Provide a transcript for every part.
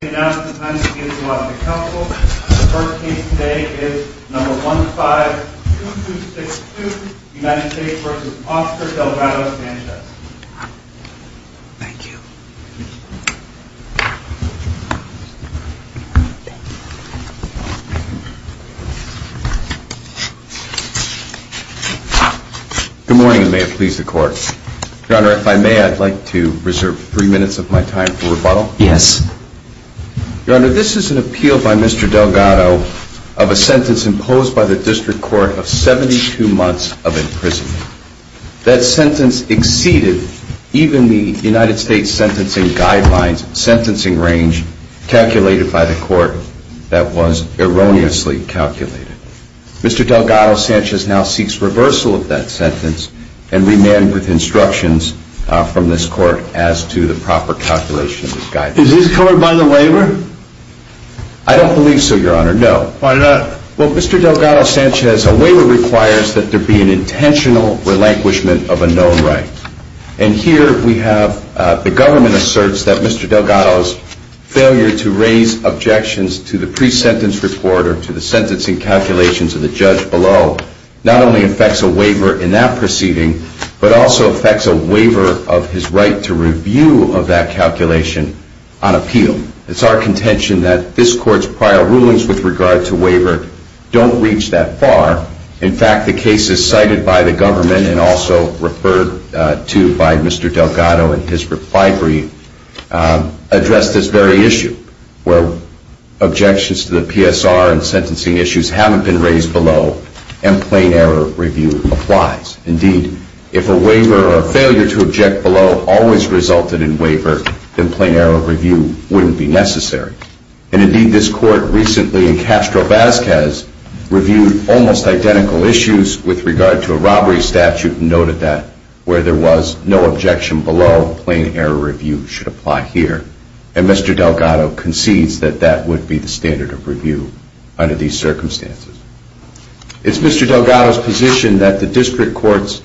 Good morning and may it please the court. Your honor, if I may, I'd like to reserve three minutes of my time for rebuttal. Yes. Your honor, this is an appeal by Mr. Delgado of a sentence imposed by the district court of 72 months of imprisonment. That sentence exceeded even the United States sentencing guidelines, sentencing range calculated by the court that was erroneously calculated. Mr. Delgado-Sanchez now seeks reversal of that sentence and remand with instructions from this court as to the proper calculation of this guidance. Is this covered by the waiver? I don't believe so, your honor, no. Why not? Well, Mr. Delgado-Sanchez, a waiver requires that there be an intentional relinquishment of a known right. And here we have the government asserts that Mr. Delgado's failure to raise objections to the pre-sentence report or to the sentencing calculations of the judge below not only affects a waiver in that proceeding, but also affects a waiver of his right to review of that calculation on appeal. It's our contention that this court's prior rulings with regard to waiver don't reach that far. In fact, the cases cited by the government and also referred to by Mr. Delgado in his reply brief address this very issue, where objections to the PSR and sentencing issues haven't been raised below and plain error review applies. Indeed, if a waiver or a failure to object below always resulted in waiver, then plain error review wouldn't be necessary. And indeed, this court recently in Castro-Vazquez reviewed almost identical issues with regard to a robbery statute and noted that where there was no objection below, plain error review should apply here. And Mr. Delgado concedes that that would be the standard of review under these circumstances. It's Mr. Delgado's position that the district court's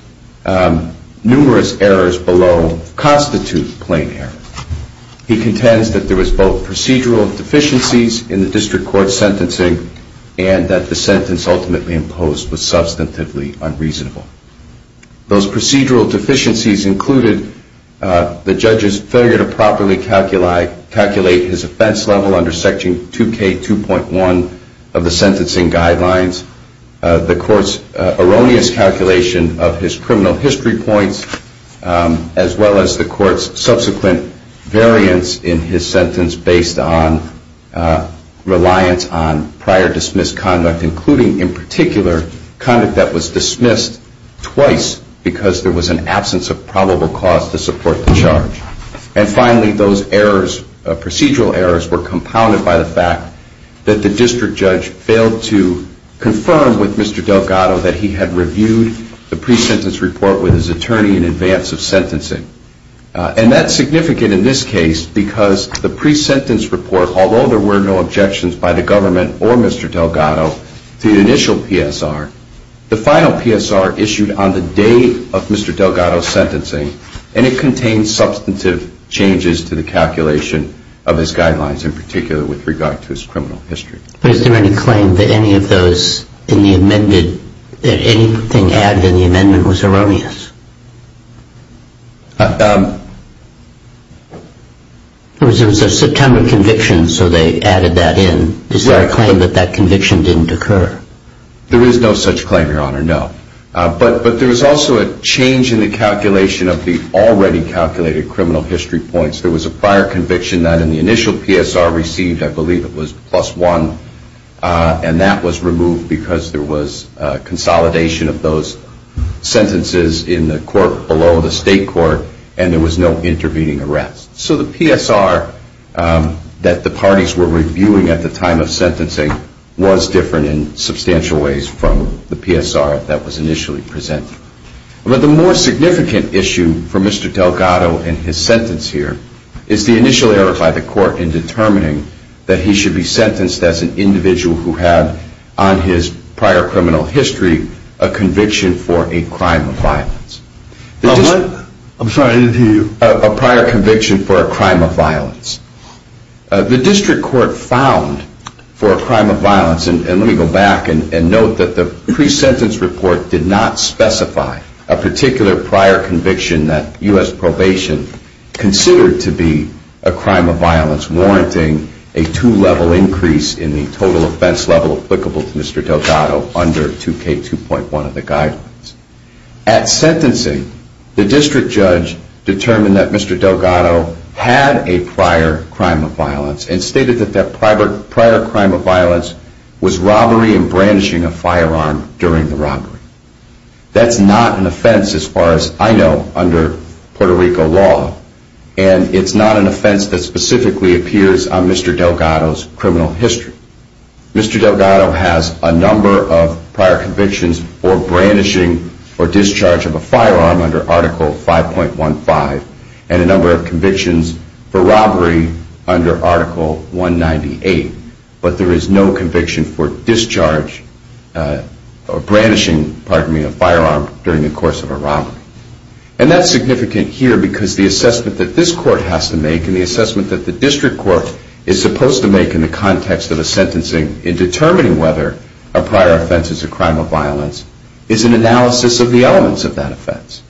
numerous errors below constitute plain error. He contends that there was both procedural deficiencies in the district court's sentencing and that the sentence ultimately imposed was substantively unreasonable. Those procedural deficiencies in the district court's sentencing and the court's erroneous calculation of his criminal history points, as well as the court's subsequent variance in his sentence based on reliance on prior dismissed conduct, including in particular conduct that was dismissed twice because there was an absence of probable cause to support the charge. And finally, those procedural errors were compounded by the fact that the district judge failed to confirm with Mr. Delgado that he had reviewed the pre-sentence report with his attorney in advance of sentencing. And that's significant in this case because the pre-sentence report, although there were no objections by the government or Mr. Delgado to the initial PSR, the final PSR issued on the day of Mr. Delgado's sentencing, and it contained substantive changes to the calculation of his guidelines, in particular with regard to his criminal history. But is there any claim that any of those in the amended, that anything added in the amendment was erroneous? There was a September conviction, so they added that in. Is there a claim that that conviction didn't occur? There is no such claim, Your Honor, no. But there was also a change in the calculation of the already calculated criminal history points. There was a prior conviction that in the initial PSR received, I believe it was plus one, and that was removed because there was consolidation of those sentences in the court below the state court and there was no intervening arrest. So the PSR that the parties were reviewing at the time of sentencing was different in substantial ways from the PSR that was initially presented. But the more significant issue for Mr. Delgado in his sentence here is the initial error by the court in determining that he should be sentenced as an individual who had on his prior criminal history a conviction for a crime of violence. I'm sorry, I didn't hear you. A prior conviction for a crime of violence. The district court found for a crime of violence, and let me go back and note that the pre-sentence report did not specify a particular prior conviction that U.S. probation considered to be a crime of violence warranting a two-level increase in the total offense level applicable to Mr. Delgado under 2K2.1 of the guidelines. At sentencing, the district judge determined that Mr. Delgado had a prior crime of violence and stated that that prior crime of violence was robbery and brandishing a firearm during the robbery. That's not an offense as far as I know under Puerto Rico law and it's not an offense that specifically appears on Mr. Delgado's criminal history. Mr. Delgado has a number of prior convictions for brandishing or discharge of a firearm under Article 5.15 and a number of convictions for robbery under Article 198, but there is no conviction for discharge or brandishing, pardon me, a firearm during the course of a robbery. And that's significant here because the assessment that this court has to make and the assessment that the district court is supposed to make in the context of a sentencing in determining whether a prior offense is a crime of violence is an analysis of the elements of that offense.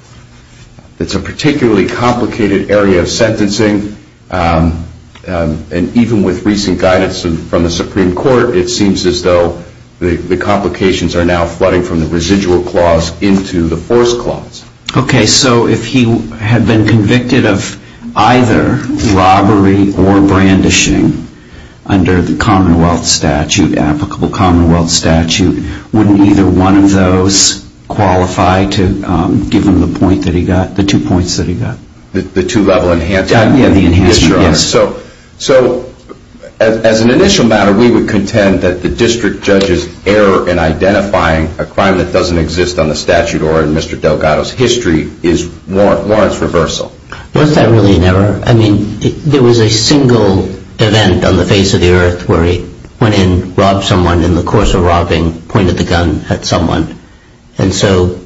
It's a particularly complicated area of sentencing and even with recent guidance from the Supreme Court, it seems as though the complications are now flooding from the residual clause into the force clause. Okay, so if he had been convicted of either robbery or brandishing under the commonwealth statute, applicable commonwealth statute, wouldn't either one of those qualify to give him the point that he got, the two points that he got? The two level enhancements? Yes, the enhancements, yes. So as an initial matter, we would contend that the district judge's error in identifying a crime that doesn't exist on the statute or in Mr. Delgado's history is warrants reversal. Was that really an error? I mean, there was a single event on the face of the earth where he went in, robbed someone, and in the course of robbing, pointed the gun at someone. And so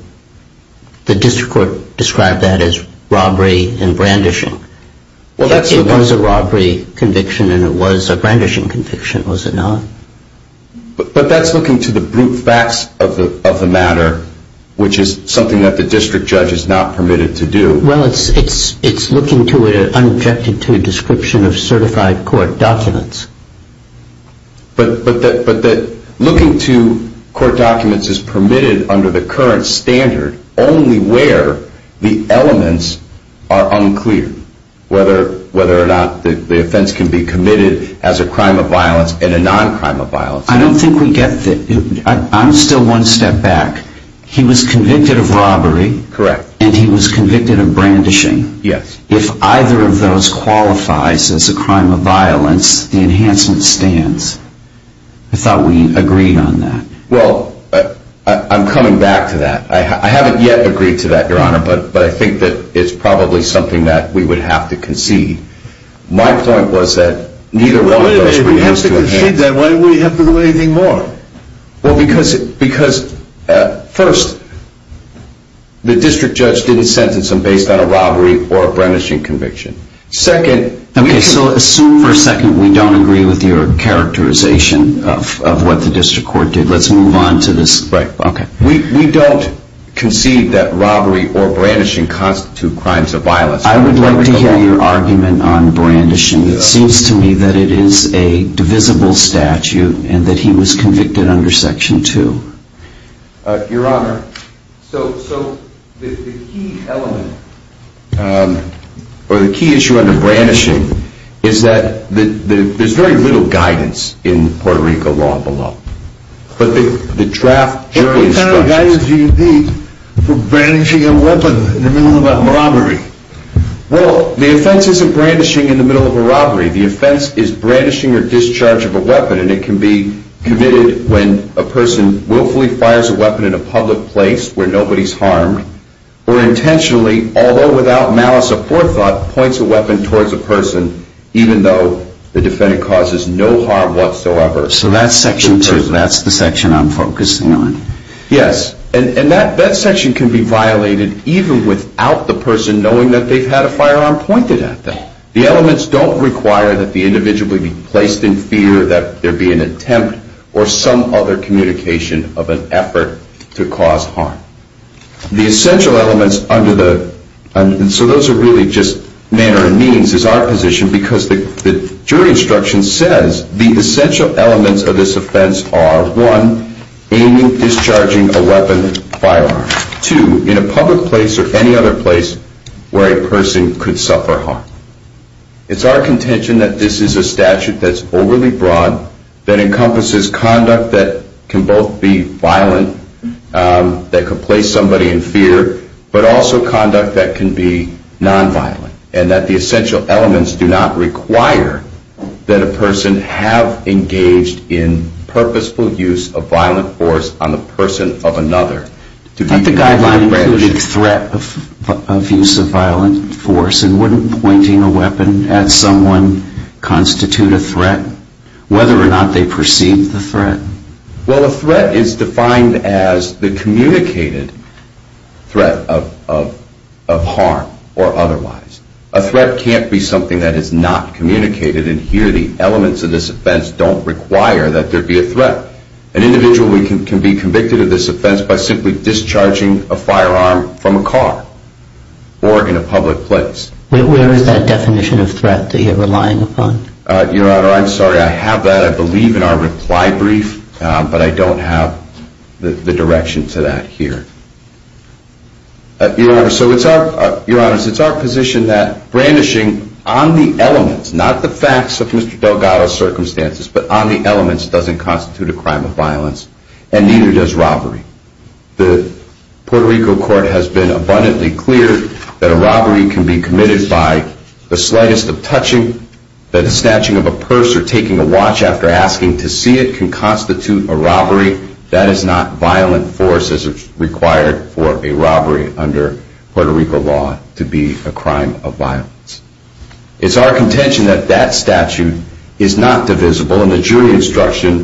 the district court described that as robbery and brandishing. It was a robbery conviction and it was a brandishing conviction, was it not? But that's looking to the brute facts of the matter, which is something that the district judge is not permitted to do. Well, it's looking to it unobjected to a description of certified court documents. But that looking to court documents is permitted under the current standard only where the elements are unclear, whether or not the offense can be committed as a crime of violence and a non-crime of violence. I don't think we get that. I'm still one step back. He was convicted of robbery and he was convicted of non-crime. I'm coming back to that. I haven't yet agreed to that, your honor. But I think that it's probably something that we would have to concede. My point was that neither one of those were able to concede. Why would he have to do anything more? Well, because first, the district judge didn't sentence him based on a robbery or a brandishing conviction. Second... Okay, so assume for a second we don't agree with your characterization of what the district court did. Let's move on to this. Right. Okay. We don't concede that robbery or brandishing constitute crimes of violence. I would like to hear your argument on brandishing. It seems to me that it is a divisible statute and that he was convicted under Section 2. Your honor, so the key element or the key issue under brandishing is that there's very little guidance in Puerto Rico law below. But the draft jury instructions... What kind of guidance do you need for brandishing a weapon in the middle of a robbery? Well, the offense isn't brandishing in the middle of a robbery. The offense is brandishing or discharge of a weapon. And it can be committed when a person willfully fires a weapon in a public place where nobody's harmed or intentionally, although without malice or poor thought, points a weapon towards a person even though the defendant causes no harm whatsoever. So that's Section 2. That's the section I'm focusing on. Yes. And that section can be violated even without the person knowing that they've had a firearm pointed at them. The elements don't require that the individual be placed in fear that there be an attempt or some other communication of an effort to cause harm. The essential elements under the... So those are really just manner and means is our position because the jury instruction says the essential elements of this offense are, one, aiming, discharging a weapon, firearm. Two, in a public place or any other place where a person could suffer harm. It's our contention that this is a statute that's overly broad, that encompasses conduct that can both be violent, that could place somebody in fear, but also conduct that can be nonviolent. And that the essential elements do not require that a person have engaged in purposeful use of violent force on the person of another. But the guideline included threat of use of violent force. And wouldn't pointing a weapon at someone constitute a threat, whether or not they perceive the threat? Well, a threat is defined as the communicated threat of harm or otherwise. A threat can't be something that is not communicated. And here the elements of this offense don't require that there be a threat. An individual can be convicted of this offense by simply discharging a firearm from a car or in a public place. Where is that definition of threat that you're relying upon? Your Honor, I'm sorry, I have that. I believe in our reply brief, but I don't have the direction to that here. Your Honor, so it's our position that brandishing on the elements, not the facts of Mr. Delgado's circumstances, but on the elements doesn't constitute a crime of violence, and neither does robbery. The Puerto Rico court has been abundantly clear that a robbery can be committed by the slightest of touching, that a snatching of a purse or taking a watch after asking to see it can constitute a robbery. That is not violent force as required for a robbery under Puerto Rico law to be a crime of violence. It's our contention that that statute is not divisible, and the jury instruction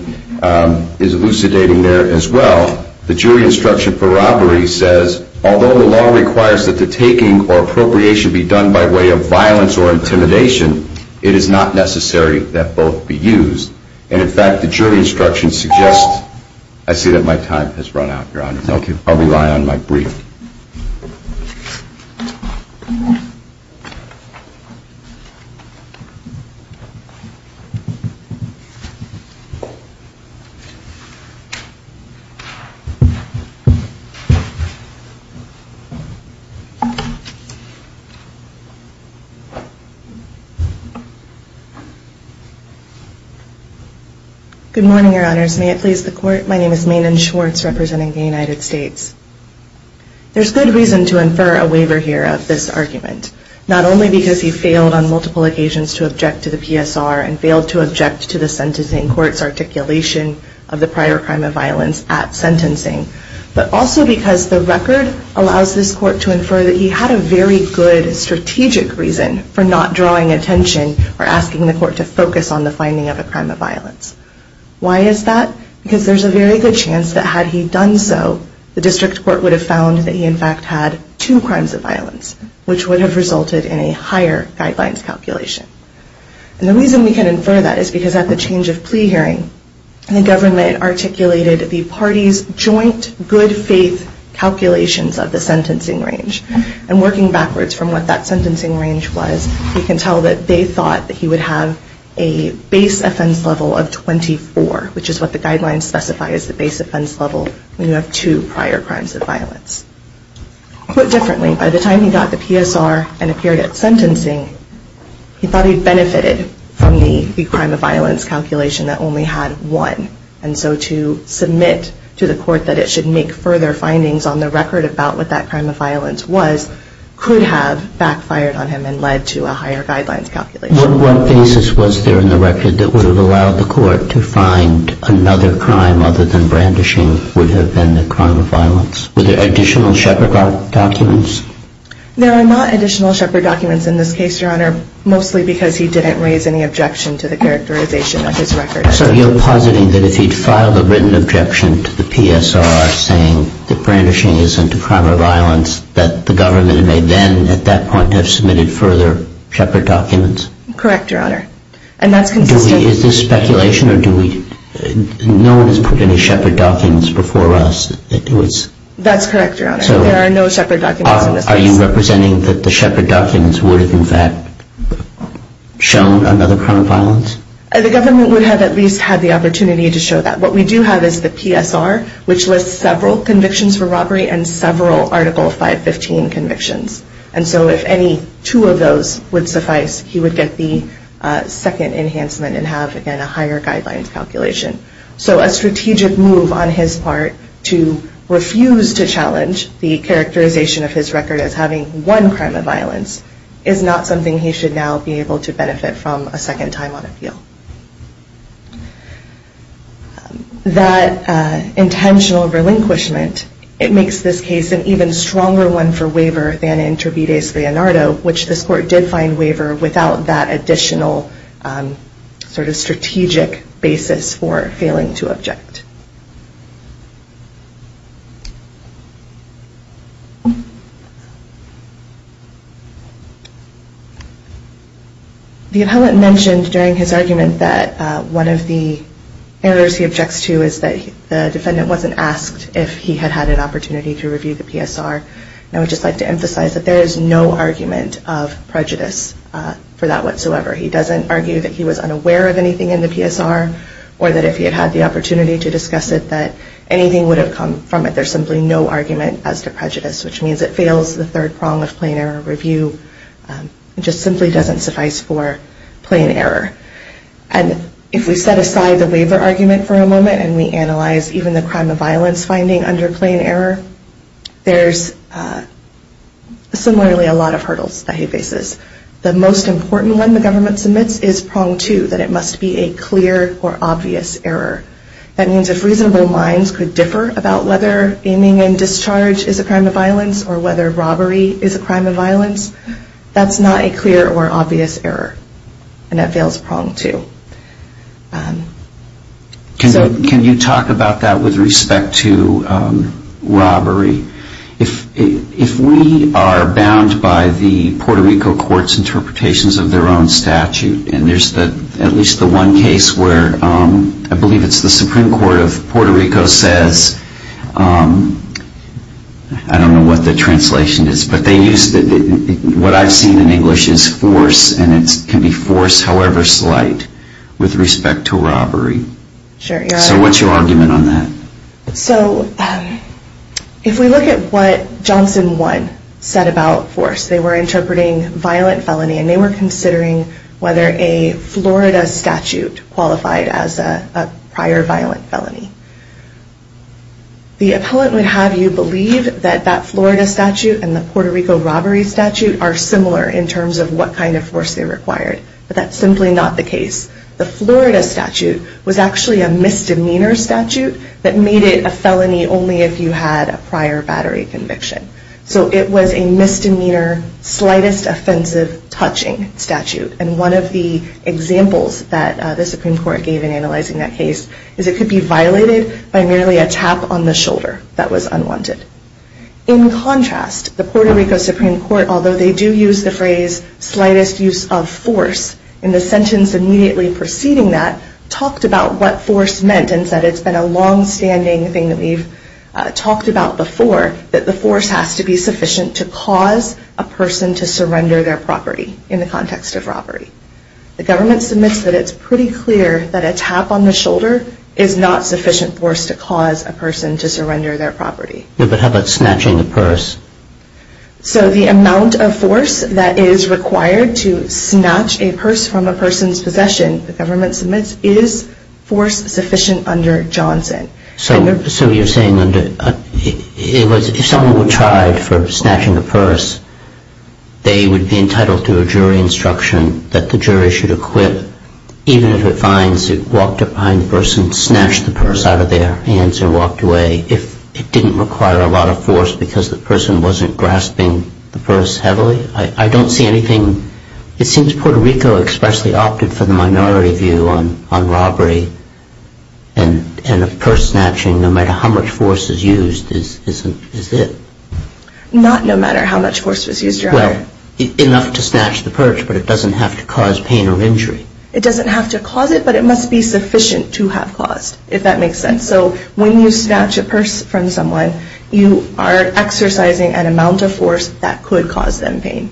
is elucidating there as well. The jury instruction for robbery says, although the law requires that the taking or appropriation be done by way of violence or intimidation, it is not necessary that both be used. And in fact, the jury instruction suggests... I see that my time has run out, Your Honor. Thank you. I'll rely on my brief. Good morning, Your Honors. May it please the Court, my name is Maynan Schwartz, representing the United States. There's good reason to infer a waiver here of this argument, not only because he failed on multiple occasions to object to the PSR and failed to object to the sentencing court's articulation of the prior crime of violence at sentencing, but also because the record allows this court to infer that he had a very good strategic reason for not drawing attention or asking the court to focus on the finding of a crime of violence. Why is that? Because there's a very good chance that had he done so, the district court would have found that he in fact had two crimes of violence, which would have resulted in a higher guidelines calculation. And the reason we can infer that is because at the change of plea hearing, the government articulated the parties' joint good faith calculations of the sentencing range. And working backwards from what that sentencing range was, you can tell that they thought that he would have a base offense level of 24, which is what the guidelines specify as the base offense level when you have two prior crimes of violence. Put differently, by the time he got the PSR and appeared at sentencing, he thought he'd benefited from the crime of violence calculation that only had one. And so to submit to the court that it should make further findings on the record about what that crime of violence was could have backfired on him and led to a higher guidelines calculation. What basis was there in the record that would have allowed the court to find another crime other than brandishing would have been the crime of violence? Were there additional Shepherd documents? There are not additional Shepherd documents in this case, Your Honor, mostly because he didn't raise any objection to the characterization of his record. So you're positing that if he'd filed a written objection to the PSR saying that brandishing isn't a crime of violence, that the government may then at that point have submitted further Shepherd documents? Correct, Your Honor, and that's consistent. Is this speculation or do we... no one has put any Shepherd documents before us? That's correct, Your Honor, there are no Shepherd documents in this case. Are you representing that the Shepherd documents would have in fact shown another crime of violence? The government would have at least had the opportunity to show that. What we do have is the PSR, which lists several convictions for robbery and several Article 515 convictions. And so if any two of those would suffice, he would get the second enhancement and have, again, a higher guidelines calculation. So a strategic move on his part to refuse to challenge the characterization of his record as having one crime of violence is not something he should now be able to benefit from a second time on appeal. That intentional relinquishment, it makes this case an even stronger one for waiver than in Trivides-Leonardo, which this court did find waiver without that additional sort of strategic basis for failing to object. The appellant mentioned during his argument that one of the errors he objects to is that the defendant wasn't asked if he had had an opportunity to review the PSR. And I would just like to emphasize that there is no argument of prejudice for that whatsoever. He doesn't argue that he was unaware of anything in the PSR or that if he had had the opportunity to discuss it that anything would have come from it. There's simply no argument as to prejudice, which means it fails the third prong of plain error review. It just simply doesn't suffice for plain error. And if we set aside the waiver argument for a moment and we analyze even the crime of violence finding under plain error, there's similarly a lot of hurdles that he faces. The most important one the government submits is prong two, that it must be a clear or obvious error. That means if reasonable minds could differ about whether aiming and discharge is a crime of violence or whether robbery is a crime of violence, that's not a clear or obvious error. And that fails prong two. Can you talk about that with respect to robbery? If we are bound by the Puerto Rico court's interpretations of their own statute, and there's at least the one case where I believe it's the Supreme Court of Puerto Rico says, I don't know what the translation is, but what I've seen in English is force, and it can be force however slight with respect to robbery. So what's your argument on that? If we look at what Johnson 1 said about force, they were interpreting violent felony and they were considering whether a Florida statute qualified as a prior violent felony. The appellant would have you believe that that Florida statute and the Puerto Rico robbery statute are similar in terms of what kind of force they required, but that's simply not the case. The Florida statute was actually a misdemeanor statute that made it a felony only if you had a prior battery conviction. So it was a misdemeanor, slightest offensive touching statute. And one of the examples that the Supreme Court gave in analyzing that case is it could be violated by merely a tap on the shoulder that was unwanted. In contrast, the Puerto Rico Supreme Court, although they do use the phrase slightest use of force in the sentence immediately preceding that, talked about what force meant and said it's been a longstanding thing that we've talked about before, that the force has to be sufficient to cause a person to surrender their property in the context of robbery. The government submits that it's pretty clear that a tap on the shoulder is not sufficient force to cause a person to surrender their property. But how about snatching a purse? So the amount of force that is required to snatch a purse from a person's possession, the government submits, is force sufficient under Johnson. So you're saying if someone were tried for snatching a purse, they would be entitled to a jury instruction that the jury should acquit even if it finds it walked up behind the purse and snatched the purse out of their hands and walked away if it didn't require a lot of force because the person wasn't grasping the purse heavily? I don't see anything. It seems Puerto Rico expressly opted for the minority view on robbery and purse snatching, no matter how much force is used, is it. Not no matter how much force was used. Well, enough to snatch the purse, but it doesn't have to cause pain or injury. It doesn't have to cause it, but it must be sufficient to have caused, if that makes sense. So when you snatch a purse from someone, you are exercising an amount of force that could cause them pain.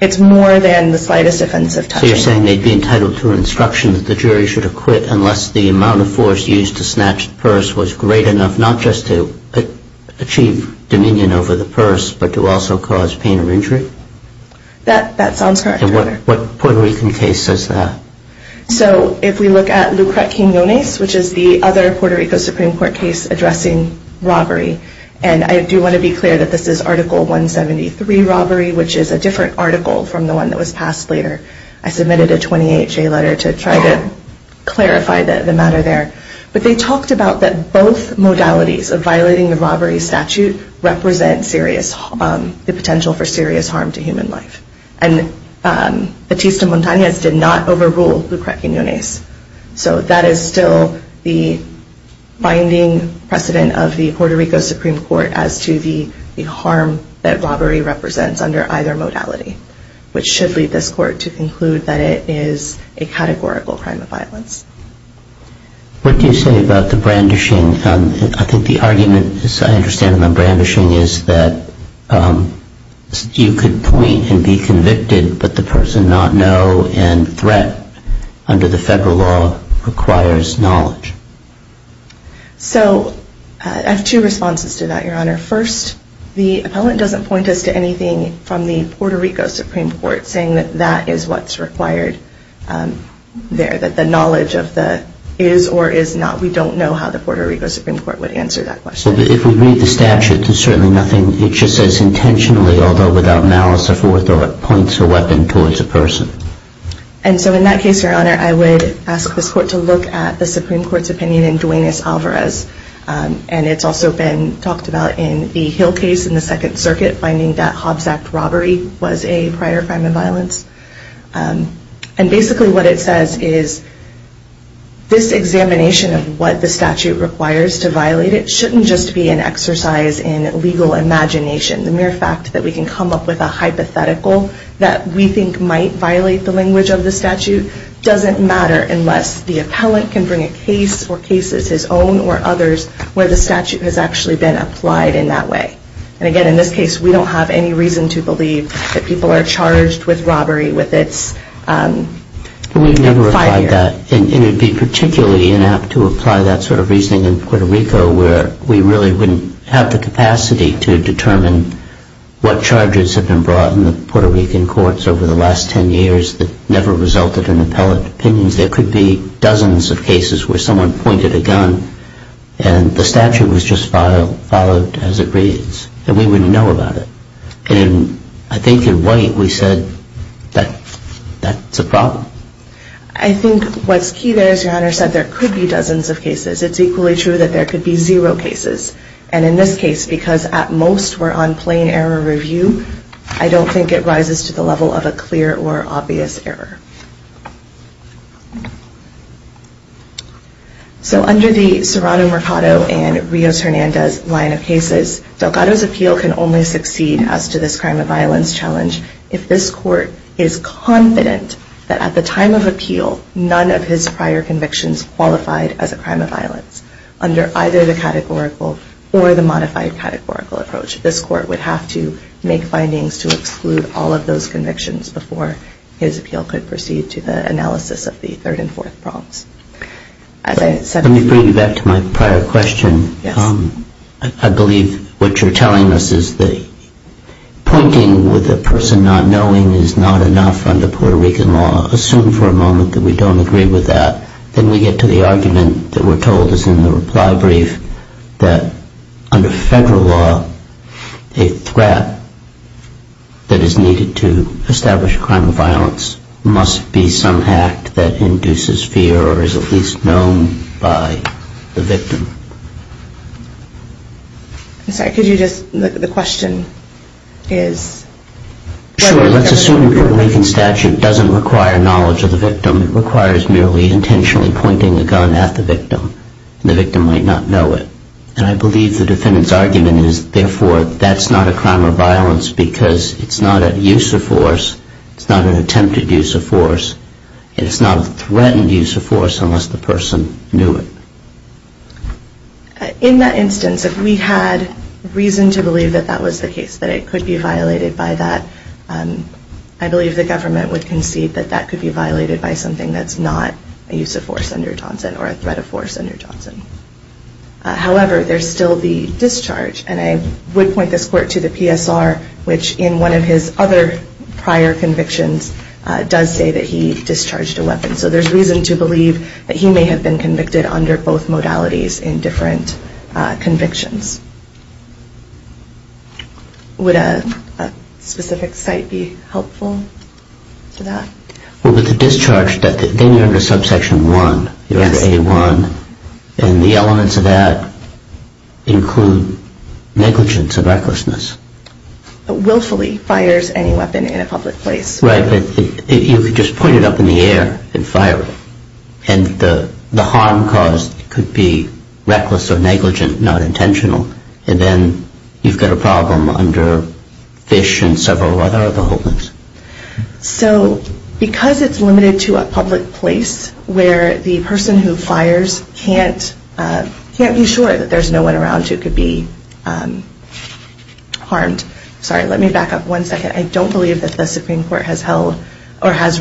It's more than the slightest offense of touching. So you're saying they'd be entitled to an instruction that the jury should acquit unless the amount of force used to snatch the purse was great enough not just to achieve dominion over the purse, but to also cause pain or injury? That sounds correct, Your Honor. And what Puerto Rican case says that? So if we look at Lucret King Yonez, which is the other Puerto Rico Supreme Court case addressing robbery, and I do want to be clear that this is Article 173 robbery, which is a different article from the one that was passed later. I submitted a 28-J letter to try to clarify the matter there. But they talked about that both modalities of violating the robbery statute represent the potential for serious harm to human life. And Batista Montañez did not overrule Lucret King Yonez. So that is still the binding precedent of the Puerto Rico Supreme Court as to the harm that robbery represents under either modality, which should lead this court to conclude that it is a categorical crime of violence. What do you say about the brandishing? I think the argument, as I understand it, on brandishing is that you could point and be convicted, but the person not know and threat under the federal law requires knowledge. So I have two responses to that, Your Honor. First, the appellant doesn't point us to anything from the Puerto Rico Supreme Court saying that that is what's required there, that the knowledge of the is or is not. We don't know how the Puerto Rico Supreme Court would answer that question. If we read the statute, there's certainly nothing. It just says intentionally, although without malice or forthright, points a weapon towards a person. And so in that case, Your Honor, I would ask this court to look at the Supreme Court's opinion in Duenas-Alvarez. And it's also been talked about in the Hill case in the Second Circuit, finding that Hobbs Act robbery was a prior crime of violence. And basically what it says is this examination of what the statute requires to violate it shouldn't just be an exercise in legal imagination. The mere fact that we can come up with a hypothetical that we think might violate the language of the statute doesn't matter unless the appellant can bring a case or cases his own or others where the statute has actually been applied in that way. And again, in this case, we don't have any reason to believe that people are charged with robbery with its prior. We've never applied that. And it would be particularly inept to apply that sort of reasoning in Puerto Rico, where we really wouldn't have the capacity to determine what charges have been brought in the Puerto Rican courts over the last 10 years that never resulted in appellate opinions. There could be dozens of cases where someone pointed a gun, and the statute was just followed as it reads, and we wouldn't know about it. And I think in White we said that that's a problem. I think what's key there, as your Honor said, there could be dozens of cases. It's equally true that there could be zero cases. And in this case, because at most we're on plain error review, I don't think it rises to the level of a clear or obvious error. So under the Serrano Mercado and Rios Hernandez line of cases, Delgado's appeal can only succeed as to this crime of violence challenge if this court is confident that at the time of appeal, none of his prior convictions qualified as a crime of violence under either the categorical or the modified categorical approach. This court would have to make findings to exclude all of those convictions before his appeal could proceed to the analysis of the third and fourth prompts. Let me bring you back to my prior question. I believe what you're telling us is that pointing with a person not knowing is not enough under Puerto Rican law. Assume for a moment that we don't agree with that. Then we get to the argument that we're told is in the reply brief that under federal law, a threat that is needed to establish a crime of violence must be some act that induces fear or is at least known by the victim. I'm sorry. Could you just look at the question? Sure. Let's assume Puerto Rican statute doesn't require knowledge of the victim. It requires merely intentionally pointing a gun at the victim and the victim might not know it. And I believe the defendant's argument is therefore that's not a crime of violence because it's not a use of force, it's not an attempted use of force, and it's not a threatened use of force unless the person knew it. In that instance, if we had reason to believe that that was the case, that it could be violated by that, I believe the government would concede that that could be violated by something that's not a use of force under Johnson or a threat of force under Johnson. However, there's still the discharge, and I would point this court to the PSR, which in one of his other prior convictions does say that he discharged a weapon. So there's reason to believe that he may have been convicted under both modalities in different convictions. Would a specific site be helpful to that? Well, with the discharge, then you're under subsection 1, you're under A1, and the elements of that include negligence or recklessness. Willfully fires any weapon in a public place. Right, but you could just point it up in the air and fire it, and the harm caused could be reckless or negligent, not intentional, and then you've got a problem under FISH and several other other holdings. So because it's limited to a public place where the person who fires can't be sure that there's no one around who could be harmed. Sorry, let me back up one second. I don't believe that the Supreme Court has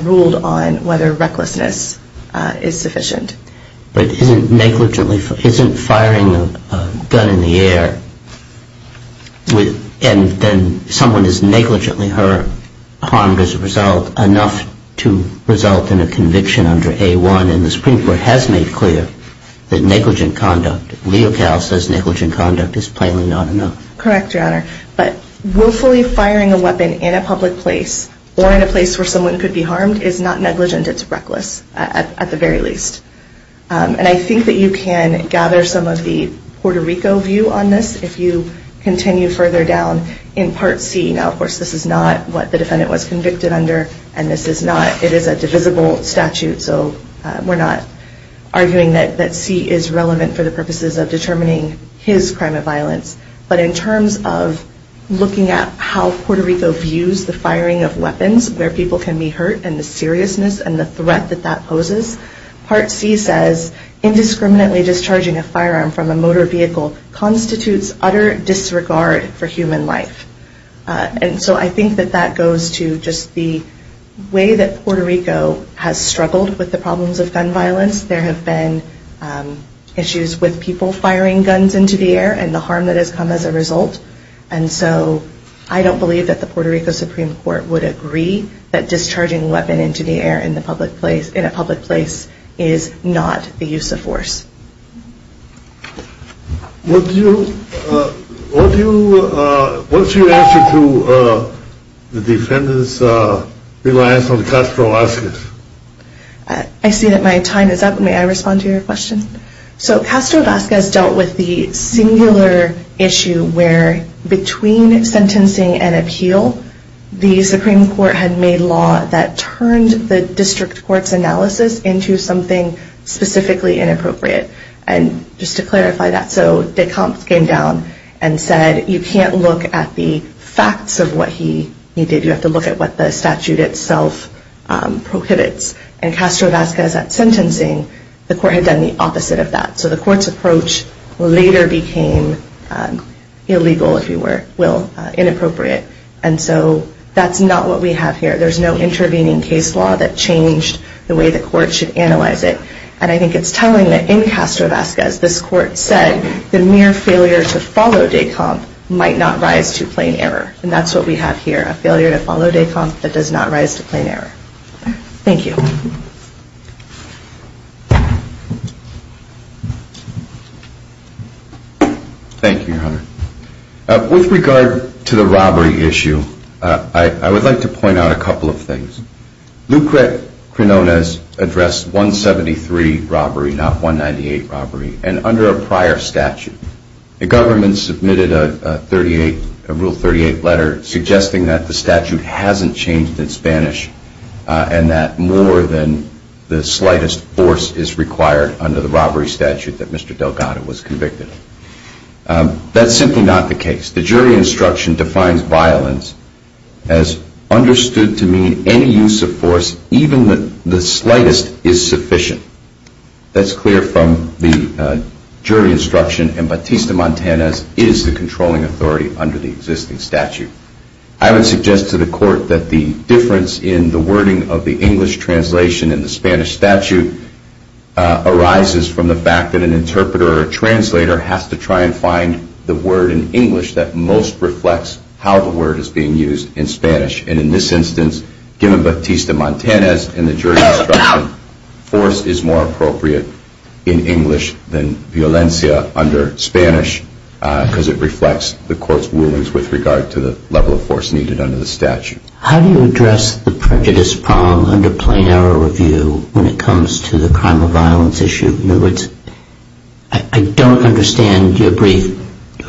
ruled on whether recklessness is sufficient. But isn't firing a gun in the air, and then someone is negligently harmed as a result, enough to result in a conviction under A1? The Supreme Court has made clear that negligent conduct, is plainly not enough. Correct, Your Honor, but willfully firing a weapon in a public place, or in a place where someone could be harmed, is not negligent, it's reckless, at the very least. And I think that you can gather some of the Puerto Rico view on this, if you continue further down in Part C. Now of course this is not what the defendant was convicted under, and this is not, it is a divisible statute, so we're not arguing that C is relevant for the purposes of determining his crime of violence. But in terms of looking at how Puerto Rico views the firing of weapons, where people can be hurt, and the seriousness and the threat that that poses, Part C says, indiscriminately discharging a firearm from a motor vehicle, constitutes utter disregard for human life. And so I think that that goes to just the way that Puerto Rico has struggled with the problems of gun violence. There have been issues with people firing guns into the air, and so I don't believe that the Puerto Rico Supreme Court would agree that discharging a weapon into the air in a public place is not the use of force. What's your answer to the defendant's reliance on Castro-Vasquez? I see that my time is up, may I respond to your question? So Castro-Vasquez dealt with the singular issue where between sentencing and appeal, the Supreme Court had made law that turned the district court's analysis into something specifically inappropriate. And just to clarify that, so de Compte came down and said, you can't look at the facts of what he did, you have to look at what the statute itself prohibits. And Castro-Vasquez at sentencing, the court had done the opposite of that. So the court's approach later became illegal, if you will, inappropriate. And so that's not what we have here. There's no intervening case law that changed the way the court should analyze it. And I think it's telling that in Castro-Vasquez, this court said the mere failure to follow de Compte might not rise to plain error. And that's what we have here, a failure to follow de Compte that does not rise to plain error. Thank you. Thank you, Your Honor. With regard to the robbery issue, I would like to point out a couple of things. Lucret Crinones addressed 173 robbery, not 198 robbery, and under a prior statute. The government submitted a Rule 38 letter suggesting that the statute hasn't changed in Spanish and that more than the slightest force is required under the robbery statute that Mr. Delgado was convicted of. That's simply not the case. The jury instruction defines violence as understood to mean any use of force, even the slightest, is sufficient. That's clear from the jury instruction, and Batista-Montanez is the controlling authority under the existing statute. I would suggest to the court that the difference in the wording of the English translation in the Spanish statute arises from the fact that an interpreter or translator has to try and find the word in English that most reflects how the word is being used in Spanish. And in this instance, given Batista-Montanez and the jury instruction, force is more appropriate in English than violencia under Spanish because it reflects the court's rulings with regard to the level of force needed under the statute. How do you address the prejudice problem under plain error review when it comes to the crime of violence issue? In other words, I don't understand your brief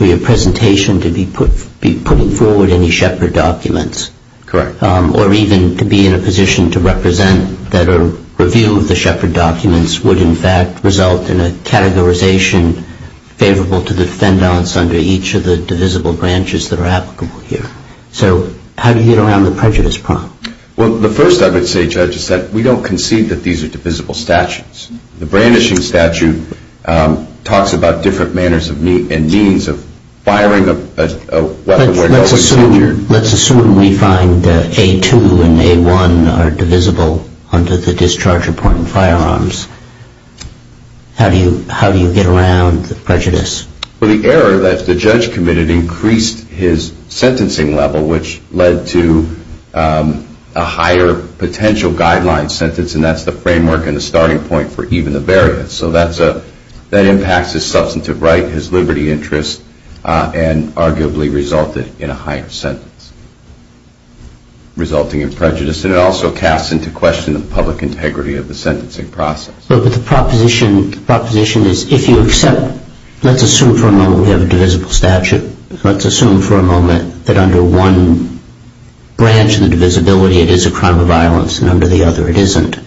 or your presentation to be putting forward any shepherd documents. Correct. Or even to be in a position to represent that a review of the shepherd documents would in fact result in a categorization favorable to the defendants under each of the divisible branches that are applicable here. So how do you get around the prejudice problem? Well, the first I would say, Judge, is that we don't concede that these are divisible statutes. The brandishing statute talks about different manners and means of firing a weapon. Let's assume we find that A2 and A1 are divisible under the discharge of important firearms. How do you get around the prejudice? Well, the error that the judge committed increased his sentencing level, which led to a higher potential guideline sentence. And that's the framework and the starting point for even the various. So that impacts his substantive right, his liberty interest, and arguably resulted in a higher sentence resulting in prejudice. And it also casts into question the public integrity of the sentencing process. But the proposition is if you accept, let's assume for a moment we have a divisible statute. Let's assume for a moment that under one branch of the divisibility it is a crime of violence and under the other it isn't.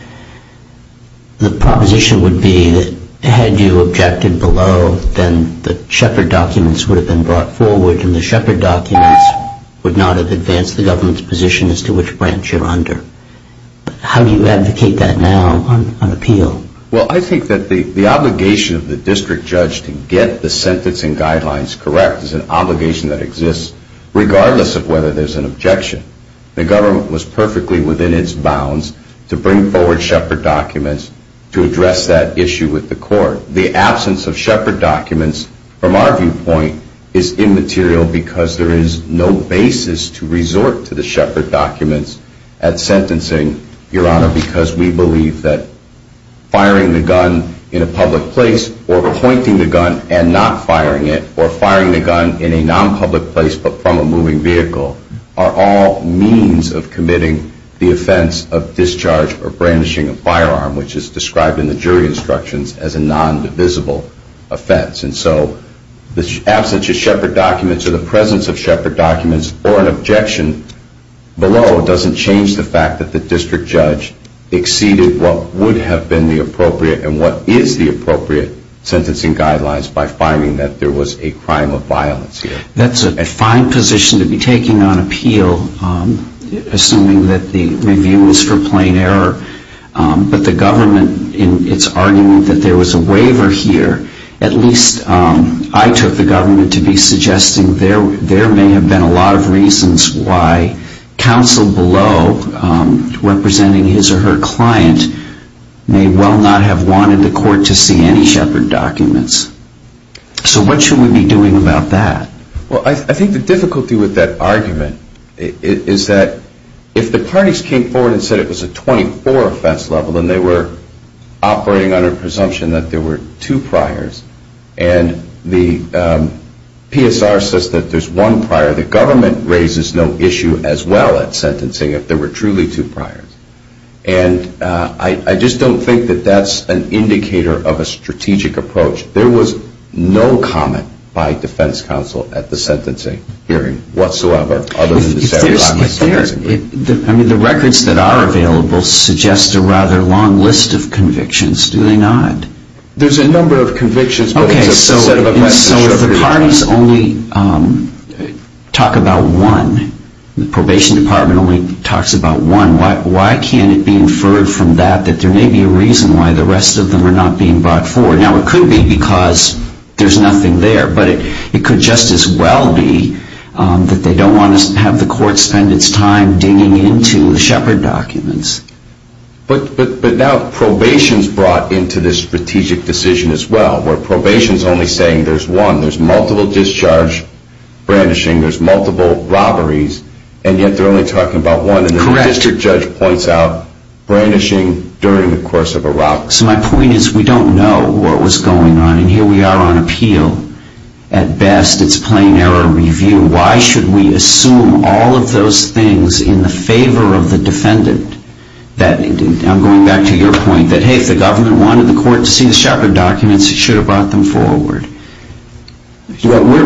The proposition would be that had you objected below, then the Shepard documents would have been brought forward and the Shepard documents would not have advanced the government's position as to which branch you're under. How do you advocate that now on appeal? Well, I think that the obligation of the district judge to get the sentencing guidelines correct is an obligation that exists regardless of whether there's an objection. The government was perfectly within its bounds to bring forward Shepard documents to address that issue with the court. The absence of Shepard documents from our viewpoint is immaterial because there is no basis to resort to the Shepard documents at sentencing, Your Honor, because we believe that firing the gun in a public place or pointing the gun and not firing it or firing the gun in a non-public place but from a moving vehicle are all means of committing the offense of discharge or brandishing a firearm, which is described in the jury instructions as a non-divisible offense. And so the absence of Shepard documents or the presence of Shepard documents or an objection below doesn't change the fact that the district judge exceeded what would have been the appropriate and what is the appropriate sentencing guidelines by firing that there was a crime of violence here. That's a fine position to be taking on appeal, assuming that the review was for plain error. But the government, in its argument that there was a waiver here, at least I took the government to be suggesting there may have been a lot of reasons why counsel below, representing his or her client, may well not have wanted the court to see any Shepard documents. So what should we be doing about that? Well, I think the difficulty with that argument is that if the parties came forward and said it was a 24 offense level and they were operating under presumption that there were two priors and the PSR says that there's one prior, the government raises no issue as well at sentencing if there were truly two priors. And I just don't think that that's an indicator of a strategic approach. There was no comment by defense counsel at the sentencing hearing whatsoever. If there's, I mean, the records that are available suggest a rather long list of convictions. Do they not? There's a number of convictions. Okay. So if the parties only talk about one, the probation department only talks about one, why can't it be inferred from that that there may be a reason why the rest of them are not being brought forward? Now, it could be because there's nothing there. But it could just as well be that they don't want to have the court spend its time digging into the Shepard documents. But now probation's brought into this strategic decision as well, where probation's only saying there's one. There's multiple discharge brandishing, there's multiple robberies, and yet they're only talking about one. And the district judge points out brandishing during the course of a robbery. So my point is we don't know what was going on. And here we are on appeal. At best, it's plain error review. Why should we assume all of those things in the favor of the defendant? I'm going back to your point that, hey, if the government wanted the court to see the Shepard documents, it should have brought them forward.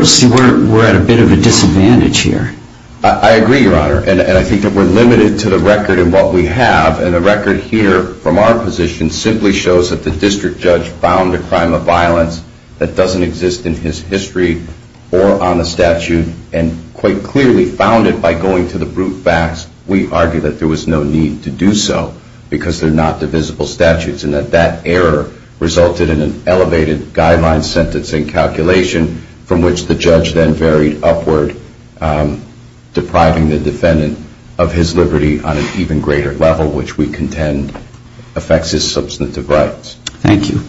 See, we're at a bit of a disadvantage here. I agree, Your Honor. And I think that we're limited to the record in what we have. And the record here from our position simply shows that the district judge found a crime of violence that doesn't exist in his history or on the statute and quite clearly found it by going to the brute facts. We argue that there was no need to do so because they're not divisible statutes and that that error resulted in an elevated guideline sentencing calculation from which the judge then varied upward, depriving the defendant of his liberty on an even greater level, which we contend affects his substantive rights. Thank you.